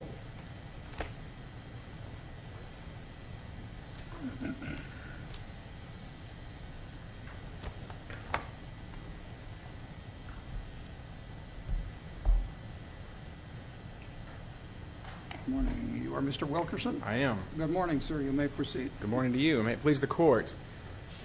Good morning. You are Mr. Wilkerson? I am. Good morning, sir. You may proceed. Good morning to you. May it please the Court.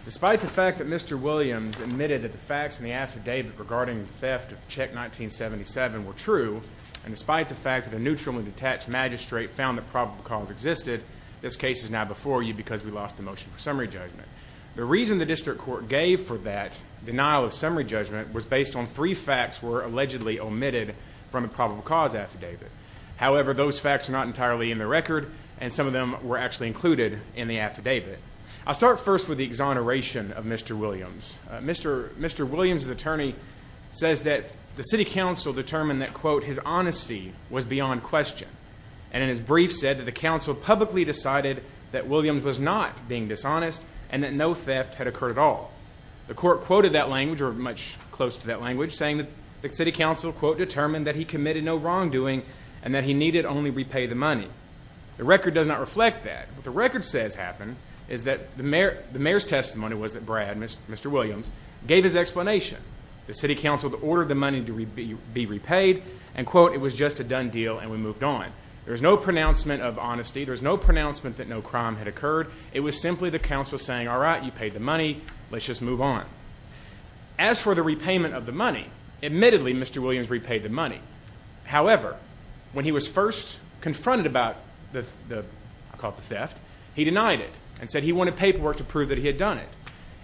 Despite the fact that Mr. Williams admitted that the facts in the affidavit regarding the theft of check 1977 were true, and despite the fact that the neutral and detached magistrate found that probable cause existed, this case is now before you because we lost the motion for summary judgment. The reason the district court gave for that denial of summary judgment was based on three facts were allegedly omitted from the probable cause affidavit. However, those facts are not entirely in the record, and some of them were actually included in the affidavit. I'll start first with the exoneration of Mr. Williams. Mr. Williams's attorney says that the city council determined that, quote, his honesty was beyond question, and in his brief said that the council publicly decided that Williams was not being dishonest and that no theft had occurred at all. The court quoted that language, or much close to that language, saying that the city council, quote, determined that he committed no wrongdoing and that he needed only repay the money. The record does not reflect that. What the record says happened is that the mayor's testimony was that Brad, Mr. Williams, gave his explanation. The city council ordered the money to be repaid, and, quote, it was just a done deal and we moved on. There's no pronouncement of honesty. There's no pronouncement that no crime had occurred. It was simply the council saying, all right, you paid the money, let's just move on. As for the repayment of the money, admittedly Mr. Williams repaid the money. However, when he was first confronted about the, I'll call it the theft, he denied it and said he wanted paperwork to prove that he had done it.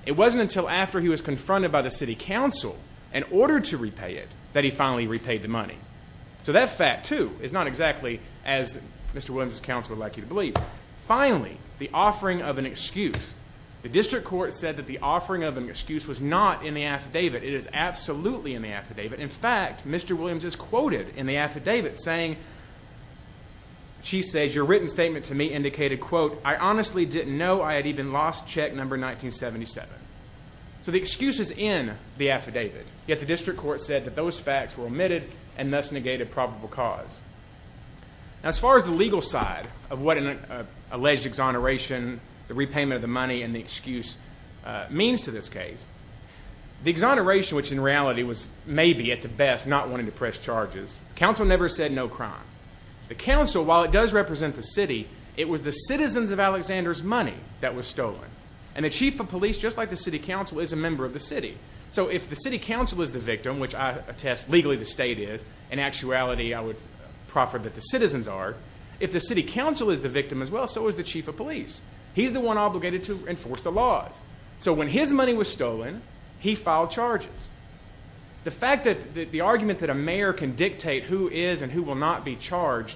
It wasn't until after he was confronted by the city council and ordered to repay it that he finally repaid the money. So that fact, too, is not exactly as Mr. Williams' counsel would like you to believe. Finally, the offering of an excuse. The district court said that the offering of an excuse was not in the affidavit. It is absolutely in the affidavit. In fact, Mr. Williams is quoted in the affidavit saying, she says, your written statement to me indicated, quote, I honestly didn't know I had even lost check number 1977. So the excuse is in the affidavit, yet the district court said that those facts were omitted and thus negated probable cause. Now as far as the legal side of what an alleged exoneration, the repayment of the money, and the excuse means to this case, the exoneration, which in reality was maybe at the best not wanting to press charges, the council never said no crime. The council, while it does represent the city, it was the citizens of the city. Just like the city council is a member of the city. So if the city council is the victim, which I attest legally the state is, in actuality I would proffer that the citizens are, if the city council is the victim as well, so is the chief of police. He's the one obligated to enforce the laws. So when his money was stolen, he filed charges. The fact that the argument that a mayor can dictate who is and who will not be charged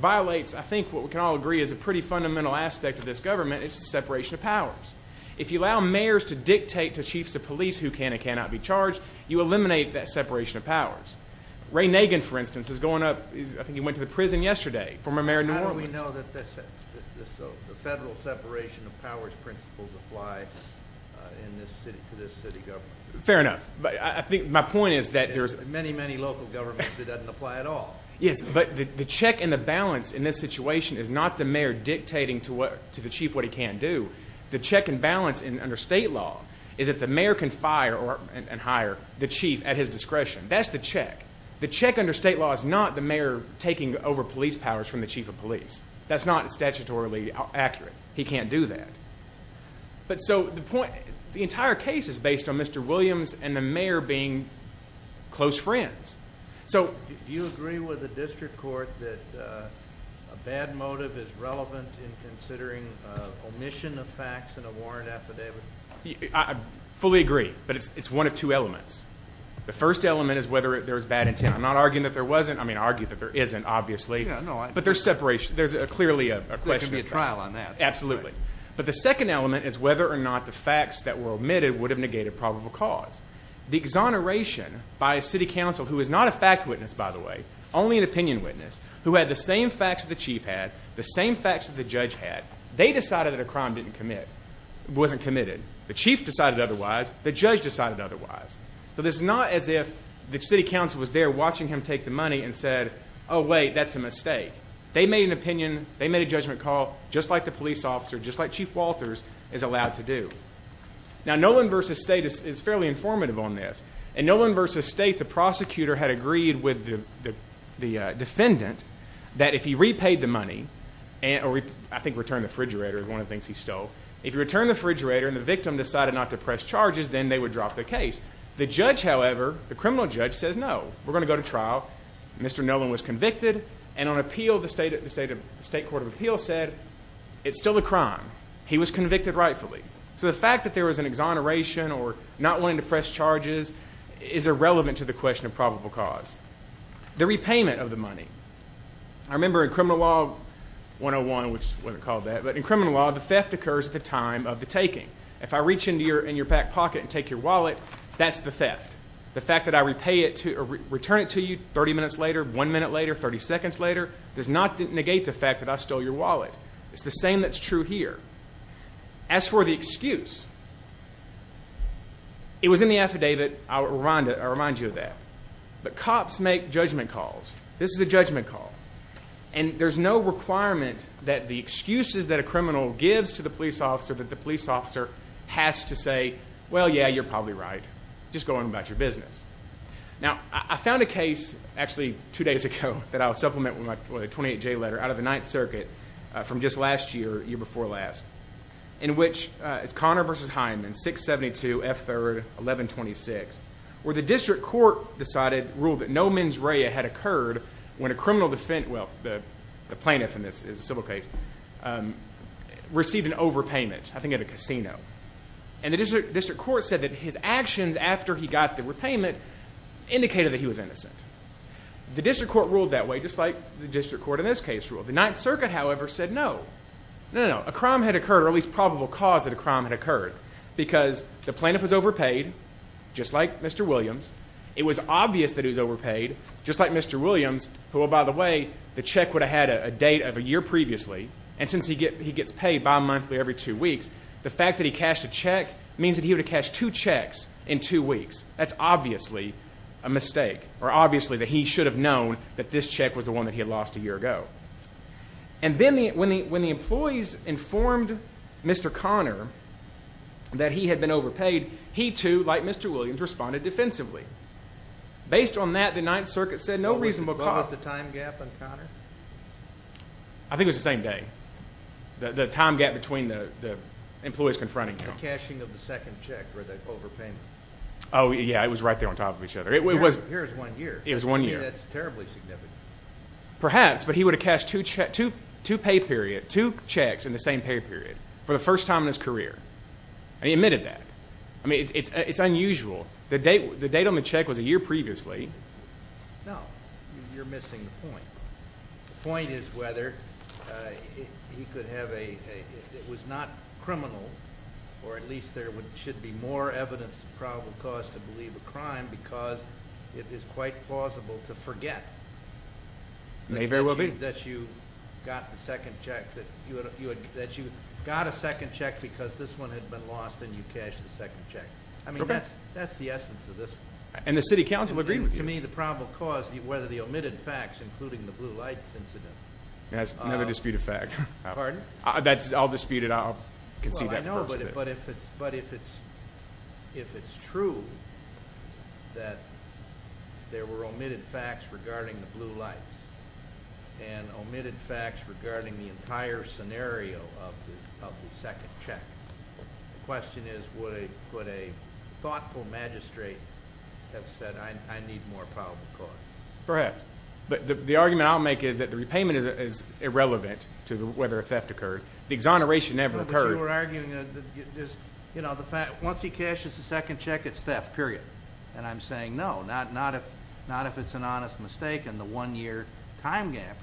violates I think what we can all agree is a pretty fundamental aspect of this government, it's the separation of powers. If you allow mayors to dictate to chiefs of police who can and cannot be charged, you eliminate that separation of powers. Ray Nagin, for instance, is going up, I think he went to the prison yesterday, former mayor of New Orleans. How do we know that the federal separation of powers principles apply to this city government? Fair enough. I think my point is that there's... Many, many local governments it doesn't apply at all. Yes, but the check and the balance in this situation is not the mayor dictating to the chief what he can do. The check and balance under state law is that the mayor can fire and hire the chief at his discretion. That's the check. The check under state law is not the mayor taking over police powers from the chief of police. That's not statutorily accurate. He can't do that. But so the point, the entire case is based on Mr. Williams and the mayor being close friends. So... Do you agree with the district court that a bad motive is relevant in considering omission of facts in a warrant affidavit? I fully agree, but it's one of two elements. The first element is whether there was bad intent. I'm not arguing that there wasn't. I mean, I argue that there isn't, obviously. But there's separation. There's clearly a question... There could be a trial on that. Absolutely. But the second element is whether or not the facts that were omitted would have negated probable cause. The exoneration by a city council, who is not a fact witness, by the way, only an opinion witness, who had the same facts that the chief had, the same facts that the judge had. They decided that a crime didn't commit, wasn't committed. The chief decided otherwise. The judge decided otherwise. So this is not as if the city council was there watching him take the money and said, oh wait, that's a mistake. They made an opinion. They made a judgment call, just like the police officer, just like Chief Walters is allowed to do. Now Nolan v. State is fairly informative on this. In Nolan v. State, the prosecutor had that if he repaid the money, or I think returned the refrigerator is one of the things he stole, if he returned the refrigerator and the victim decided not to press charges, then they would drop the case. The judge, however, the criminal judge, says no. We're going to go to trial. Mr. Nolan was convicted. And on appeal, the State Court of Appeal said, it's still a crime. He was convicted rightfully. So the fact that there was an exoneration or not wanting to I remember in criminal law 101, which wasn't called that, but in criminal law, the theft occurs at the time of the taking. If I reach into your in your back pocket and take your wallet, that's the theft. The fact that I repay it to return it to you 30 minutes later, one minute later, 30 seconds later, does not negate the fact that I stole your wallet. It's the same that's true here. As for the excuse, it was in the affidavit. I'll remind you of that. But cops make judgment calls. This is a judgment call. And there's no requirement that the excuses that a criminal gives to the police officer that the police officer has to say, well, yeah, you're probably right. Just go on about your business. Now, I found a case actually two days ago that I'll supplement with a 28-J letter out of the Ninth Circuit from just last year, year before last, in which it's Connor v. Hyman, 672 F. 3rd, 1126, where the district court decided, ruled that no mens rea had occurred when a criminal defense, well, the plaintiff in this is a civil case, received an overpayment, I think at a casino. And the district court said that his actions after he got the repayment indicated that he was innocent. The district court ruled that way, just like the district court in this case ruled. The Ninth Circuit, however, said no. No, no, no. A crime had occurred, or at least probable cause that a crime had occurred, because the plaintiff was overpaid, just like Mr. Williams. It was obvious that he was overpaid, just like Mr. Williams, who, by the way, the check would have had a date of a year previously, and since he gets paid bimonthly every two weeks, the fact that he cashed a check means that he would have cashed two checks in two weeks. That's obviously a mistake, or obviously that he should have known that this check was the one that he had lost a year ago. And then when the employees informed Mr. Conner that he had been overpaid, he too, like Mr. Williams, responded defensively. Based on that, the Ninth Circuit said no reasonable cause. What was the time gap on Conner? I think it was the same day. The time gap between the employees confronting him. The cashing of the second check, or the overpayment. Oh, yeah. It was right there on top of each other. It was... Here's one year. It was one year. Maybe that's terribly significant. Perhaps, but he would have cashed two pay period, two checks in the same pay period, for the first time in his career. And he admitted that. I mean, it's unusual. The date on the check was a year previously. No. You're missing the point. The point is whether he could have a... It was not criminal, or at least there should be more evidence of probable cause to believe a crime, because it is quite plausible to forget. May very well be. That you got a second check because this one had been lost, and you cashed the second check. I mean, that's the essence of this one. And the City Council agreed with you. To me, the probable cause, whether the omitted facts, including the blue lights incident... Never dispute a fact. Pardon? I'll dispute it. I'll concede that first. Well, I know, but if it's true that there were omitted facts regarding the blue lights, and omitted facts regarding the entire scenario of the second check, the question is, would a thoughtful magistrate have said, I need more probable cause? Perhaps. But the argument I'll make is that the repayment is irrelevant to whether a theft occurred. The exoneration never occurred. No, but you were arguing that, you know, once he cashes the second check, it's theft, period. And I'm saying, no, not if it's an honest mistake, and the one-year time gap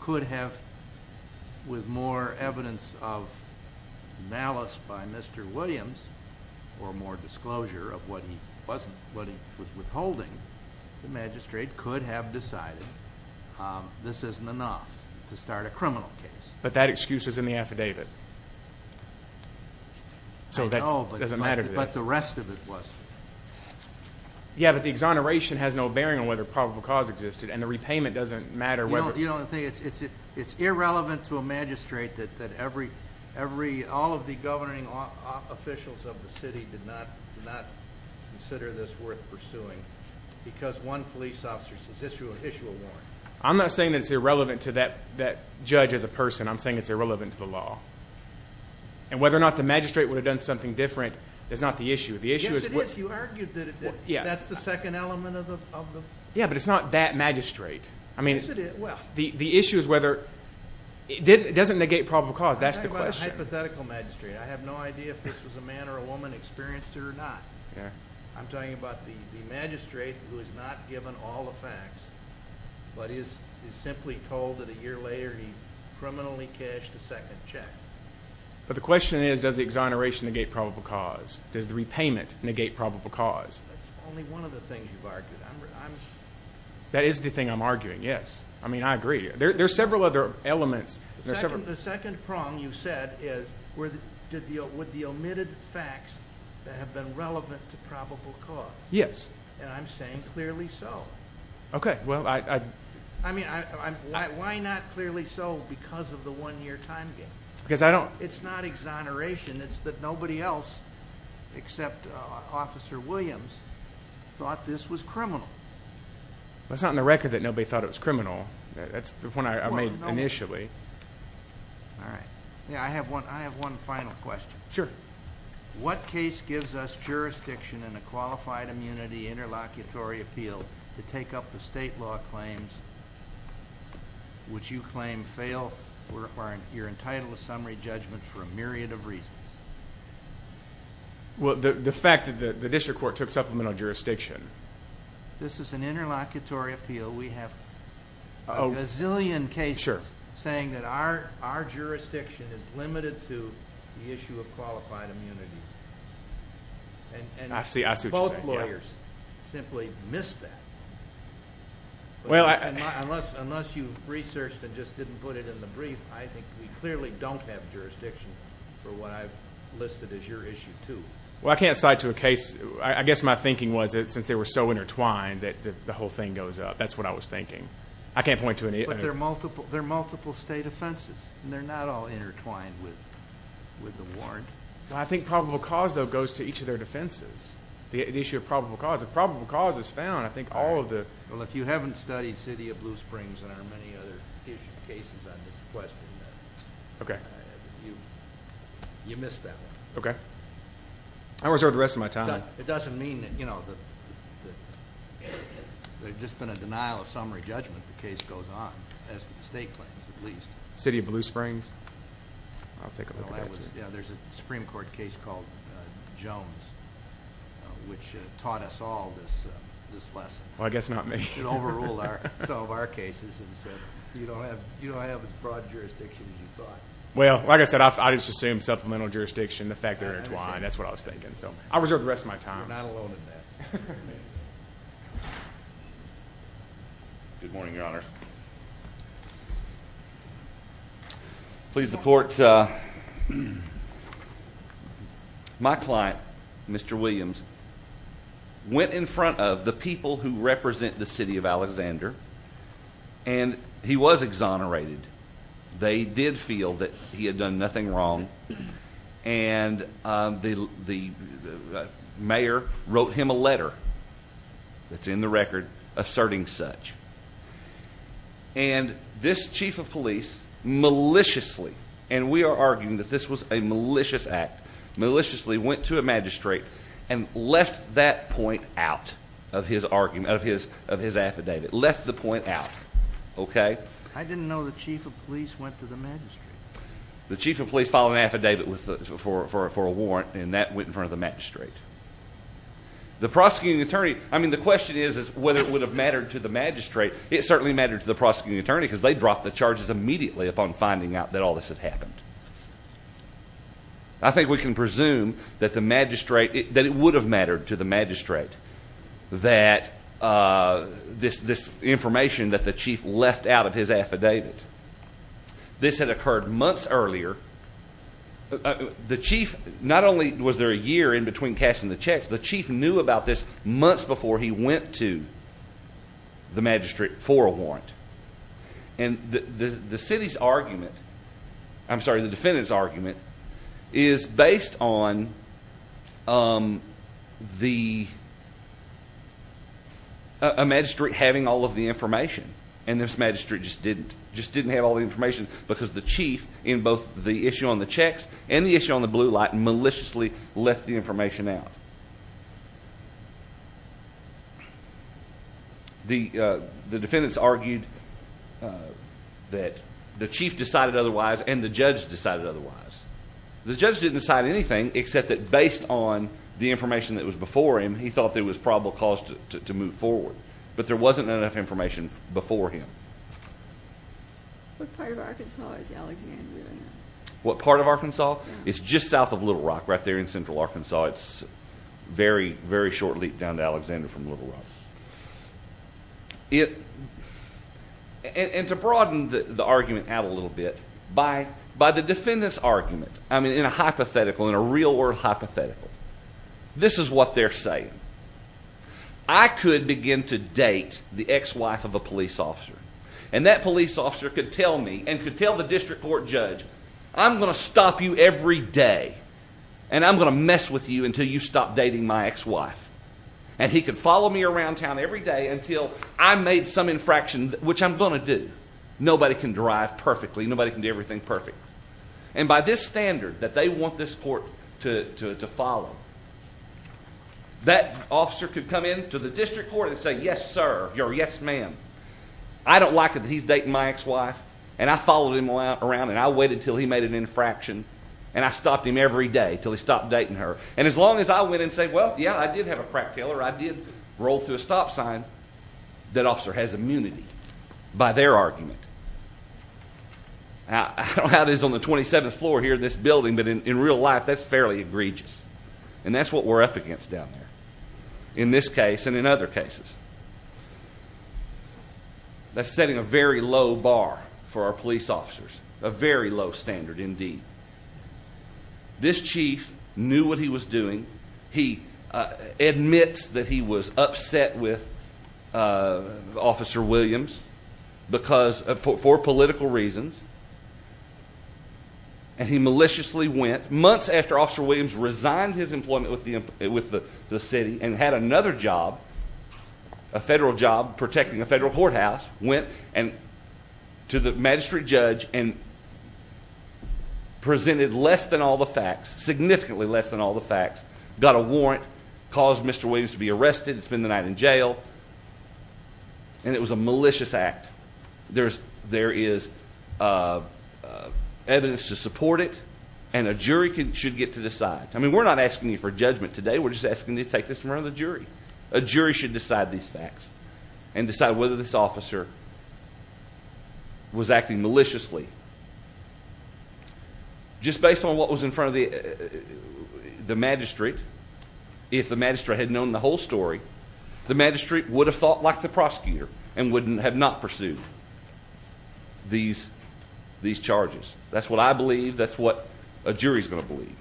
could have, with more evidence of malice by Mr. Williams, or more disclosure of what he was withholding, the magistrate could have decided, this isn't enough to start a criminal case. But that excuse is in the affidavit. I know, but the rest of it wasn't. Yeah, but the exoneration has no bearing on whether probable cause existed, and the repayment doesn't matter whether... You know, it's irrelevant to a magistrate that all of the governing officials of the city did not consider this worth pursuing, because one police officer says, issue a warrant. I'm not saying it's irrelevant to that judge as a person. I'm saying it's irrelevant to the law. And whether or not the magistrate would have done something different is not the issue. Yes, it is. You argued that it did. That's the second element of the... Yeah, but it's not that magistrate. Is it? Well... The issue is whether... It doesn't negate probable cause. That's the question. I'm talking about a hypothetical magistrate. I have no idea if this was a man or a woman who experienced it or not. I'm talking about the magistrate who is not given all the facts, but is simply told that a year later he criminally cashed the second check. But the question is, does the exoneration negate probable cause? Does the repayment negate probable cause? That's only one of the things you've argued. I'm... That is the thing I'm arguing, yes. I mean, I agree. There's several other elements. The second prong you said is, would the omitted facts have been relevant to probable cause? Yes. And I'm saying clearly so. Okay. Well, I... I mean, why not clearly so because of the one-year time gain? Because I don't... It's not exoneration. It's that nobody else, except Officer Williams, thought this was criminal. That's not in the record that nobody thought it was criminal. That's the point I made initially. All right. I have one final question. Sure. What case gives us jurisdiction in a qualified immunity interlocutory appeal to take up the state law claims which you claim fail or are entitled to summary judgment for a myriad of reasons? Well, the fact that the district court took supplemental jurisdiction. This is an interlocutory appeal. We have a gazillion cases... Sure. ...saying that our jurisdiction is limited to the issue of qualified immunity. I see what you're saying. Most lawyers simply miss that. Well, I... Unless you've researched and just didn't put it in the brief, I think we clearly don't have jurisdiction for what I've listed as your issue, too. Well, I can't cite to a case... I guess my thinking was that since they were so intertwined that the whole thing goes up. That's what I was thinking. I can't point to any... But they're multiple state offenses, and they're not all intertwined with the warrant. Well, I think probable cause, though, goes to each of their defenses. The issue of probable cause. If probable cause is found, I think all of the... Well, if you haven't studied City of Blue Springs and our many other cases on this question, you missed that one. Okay. I'll reserve the rest of my time. It doesn't mean that, you know, there's just been a denial of summary judgment if the case goes on, as the state claims, at least. City of Blue Springs? I'll take a look at that, too. There's a Supreme Court case called Jones, which taught us all this lesson. Well, I guess not me. It overruled some of our cases and said, you don't have as broad jurisdiction as you thought. Well, like I said, I just assumed supplemental jurisdiction, the fact they're intertwined. That's what I was thinking. So I'll reserve the rest of my time. You're not alone in that. Good morning, Your Honor. Good morning, Your Honor. My client, Mr. Williams, went in front of the people who represent the city of Alexander, and he was exonerated. They did feel that he had done nothing wrong, and the mayor wrote him a letter that's in the record asserting such. And this chief of police maliciously, and we are arguing that this was a malicious act, maliciously went to a magistrate and left that point out of his argument, of his affidavit. Left the point out. Okay? I didn't know the chief of police went to the magistrate. The chief of police filed an affidavit for a warrant, and that went in front of the magistrate. The prosecuting attorney, I mean, the question is whether it would have mattered to the magistrate. It certainly mattered to the prosecuting attorney, because they dropped the charges immediately upon finding out that all this had happened. I think we can presume that the magistrate, that it would have mattered to the magistrate, that this information that the chief left out of his affidavit. This had occurred months earlier. The chief, not only was there a year in between cashing the checks, the chief knew about this months before he went to the magistrate for a warrant. And the city's argument, I'm sorry, the defendant's argument, is based on the, a magistrate having all of the information. And this magistrate just didn't, just didn't have all the information, because the chief, in both the issue on the checks and the issue on the blue light, maliciously left the information out. The defendants argued that the chief decided otherwise and the judge decided otherwise. The judge didn't decide anything except that based on the information that was before him, he thought there was probable cause to move forward. But there wasn't enough information before him. What part of Arkansas is Alexander in? What part of Arkansas? It's just south of Little Rock, right there in central Arkansas. It's a very, very short leap down to Alexander from Little Rock. And to broaden the argument out a little bit, by the defendant's argument, I mean in a hypothetical, in a real world hypothetical, this is what they're saying. I could begin to date the ex-wife of a police officer. And that police officer could tell me and could tell the district court judge, I'm going to stop you every day and I'm going to mess with you until you stop dating my ex-wife. And he could follow me around town every day until I made some infraction, which I'm going to do. Nobody can drive perfectly. Nobody can do everything perfectly. And by this standard that they want this court to follow, that officer could come into the district court and say, yes, sir, or yes, ma'am. I don't like it that he's dating my ex-wife. And I followed him around and I waited until he made an infraction. And I stopped him every day until he stopped dating her. And as long as I went and said, well, yeah, I did have a crack dealer, I did roll through a stop sign, that officer has immunity by their argument. I don't know how it is on the 27th floor here in this building, but in real life that's fairly egregious. And that's what we're up against down there in this case and in other cases. That's setting a very low bar for our police officers, a very low standard indeed. This chief knew what he was doing. He admits that he was upset with Officer Williams for political reasons. And he maliciously went, months after Officer Williams resigned his employment with the city and had another job, a federal job, protecting a federal courthouse, went to the magistrate judge and presented less than all the facts, significantly less than all the facts, got a warrant, caused Mr. Williams to be arrested and spend the night in jail. And it was a malicious act. There is evidence to support it, and a jury should get to decide. I mean, we're not asking you for judgment today. We're just asking you to take this in front of the jury. A jury should decide these facts and decide whether this officer was acting maliciously. Just based on what was in front of the magistrate, if the magistrate had known the whole story, the magistrate would have thought like the prosecutor and would have not pursued these charges. That's what I believe. That's what a jury's going to believe.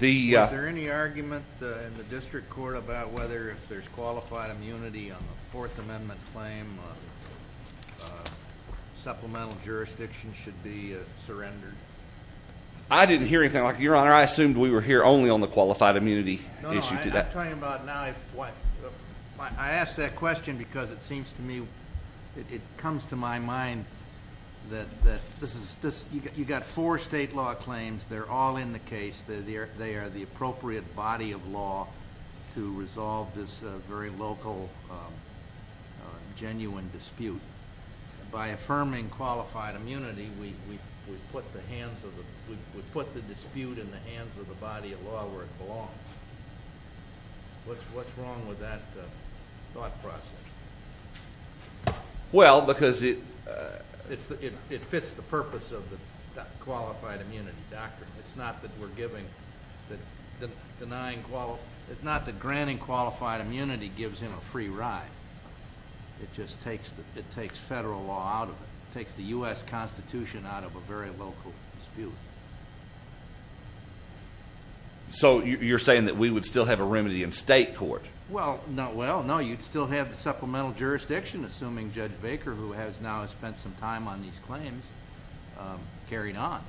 Is there any argument in the district court about whether if there's qualified immunity on the Fourth Amendment claim, supplemental jurisdiction should be surrendered? I didn't hear anything like that, Your Honor. I assumed we were here only on the qualified immunity issue today. No, no. I'm talking about now if what. I ask that question because it seems to me, it comes to my mind that you've got four state law claims. They're all in the case. They are the appropriate body of law to resolve this very local, genuine dispute. By affirming qualified immunity, we put the dispute in the hands of the body of law where it belongs. What's wrong with that thought process? Well, because it fits the purpose of the qualified immunity doctrine. It's not that granting qualified immunity gives him a free ride. It just takes federal law out of it. It takes the U.S. Constitution out of a very local dispute. So you're saying that we would still have a remedy in state court? Well, not well. No, you'd still have the supplemental jurisdiction, assuming Judge Baker, who has now spent some time on these claims, carried on.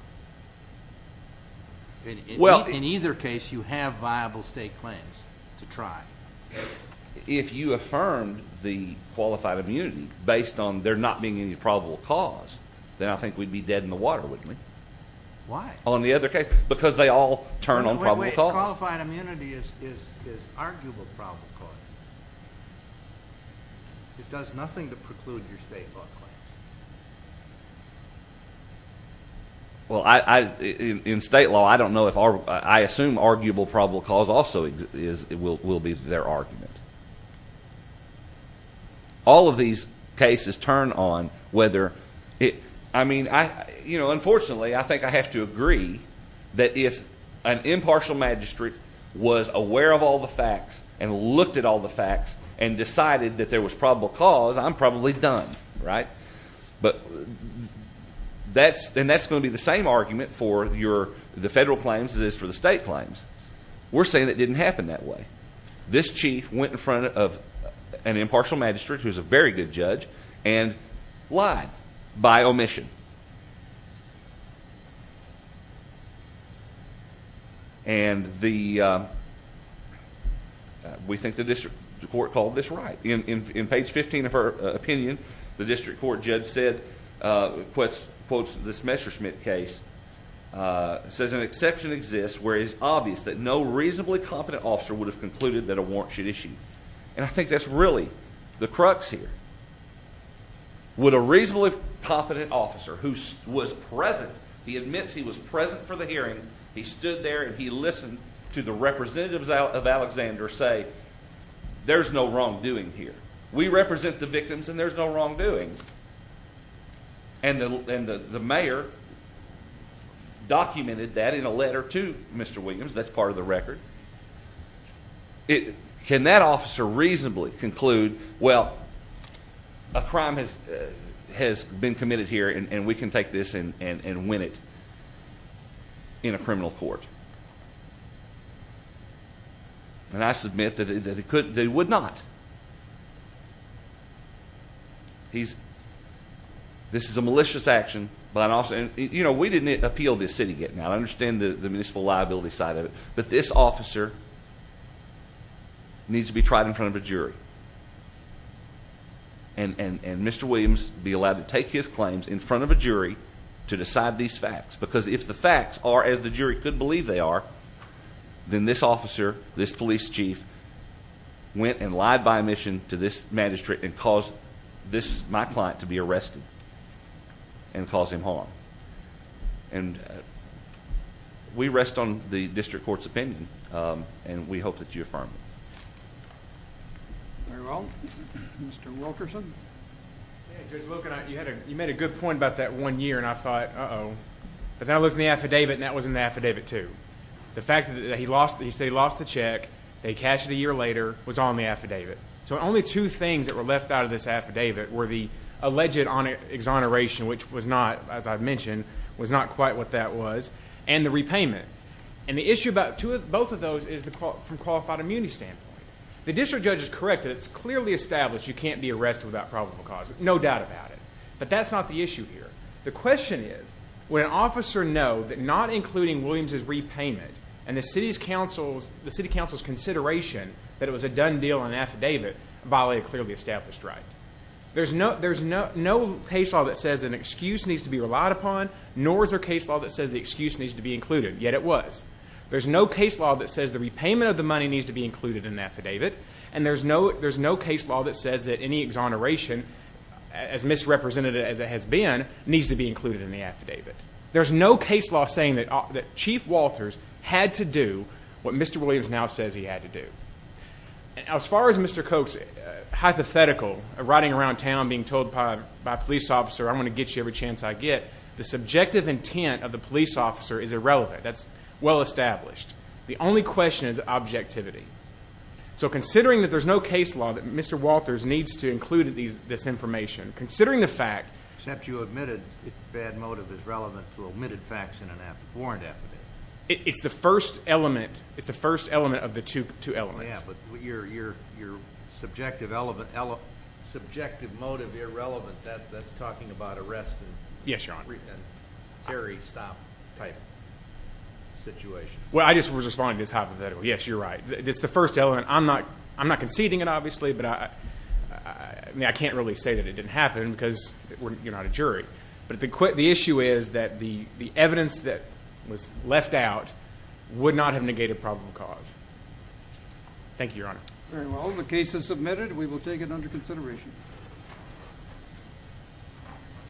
In either case, you have viable state claims to try. If you affirmed the qualified immunity based on there not being any probable cause, then I think we'd be dead in the water, wouldn't we? Why? On the other case, because they all turn on probable causes. Wait, wait, wait. Qualified immunity is arguable probable cause. It does nothing to preclude your state law claims. Well, in state law, I assume arguable probable cause also will be their argument. All of these cases turn on whether it, I mean, unfortunately, I think I have to agree that if an impartial magistrate was aware of all the facts and looked at all the facts and decided that there was probable cause, I'm probably done, right? But that's going to be the same argument for the federal claims as it is for the state claims. We're saying it didn't happen that way. This chief went in front of an impartial magistrate, who's a very good judge, and lied by omission. And we think the district court called this right. In page 15 of her opinion, the district court, Judd, said, quotes this Messerschmitt case, says an exception exists where it is obvious that no reasonably competent officer would have concluded that a warrant should issue. And I think that's really the crux here. Would a reasonably competent officer who was present, he admits he was present for the hearing, he stood there and he listened to the representatives of Alexander say, there's no wrongdoing here. We represent the victims and there's no wrongdoing. And the mayor documented that in a letter to Mr. Williams. That's part of the record. Can that officer reasonably conclude, well, a crime has been committed here and we can take this and win it in a criminal court? And I submit that he would not. This is a malicious action. You know, we didn't appeal this city yet. Now, I understand the municipal liability side of it. But this officer needs to be tried in front of a jury. And Mr. Williams be allowed to take his claims in front of a jury to decide these facts. Because if the facts are as the jury could believe they are, then this officer, this police chief, went and lied by omission to this magistrate and caused my client to be arrested and caused him harm. And we rest on the district court's opinion and we hope that you affirm it. Very well. Mr. Wilkerson. Just looking at it, you made a good point about that one year and I thought, uh-oh. But then I looked in the affidavit and that was in the affidavit too. The fact that he lost the check, they cashed it a year later, was on the affidavit. So only two things that were left out of this affidavit were the alleged exoneration, which was not, as I mentioned, was not quite what that was, and the repayment. And the issue about both of those is from a qualified immunity standpoint. The district judge is correct that it's clearly established you can't be arrested without probable cause. No doubt about it. But that's not the issue here. The question is, would an officer know that not including Williams' repayment and the city council's consideration that it was a done deal in an affidavit, violate a clearly established right? There's no case law that says an excuse needs to be relied upon, nor is there a case law that says the excuse needs to be included, yet it was. There's no case law that says the repayment of the money needs to be included in the affidavit, and there's no case law that says that any exoneration, as misrepresented as it has been, needs to be included in the affidavit. There's no case law saying that Chief Walters had to do what Mr. Williams now says he had to do. As far as Mr. Koch's hypothetical, riding around town being told by a police officer, I'm going to get you every chance I get, the subjective intent of the police officer is irrelevant. That's well established. The only question is objectivity. So considering that there's no case law that Mr. Walters needs to include this information, considering the fact that you admitted the bad motive is relevant to omitted facts in a warrant affidavit, it's the first element of the two elements. Yes, but your subjective motive irrelevant, that's talking about arrest and carry stop type situation. Well, I just was responding to his hypothetical. Yes, you're right. It's the first element. I'm not conceding it, obviously, but I can't really say that it didn't happen because you're not a jury. But the issue is that the evidence that was left out would not have negated probable cause. Thank you, Your Honor. Very well. The case is submitted. We will take it under consideration.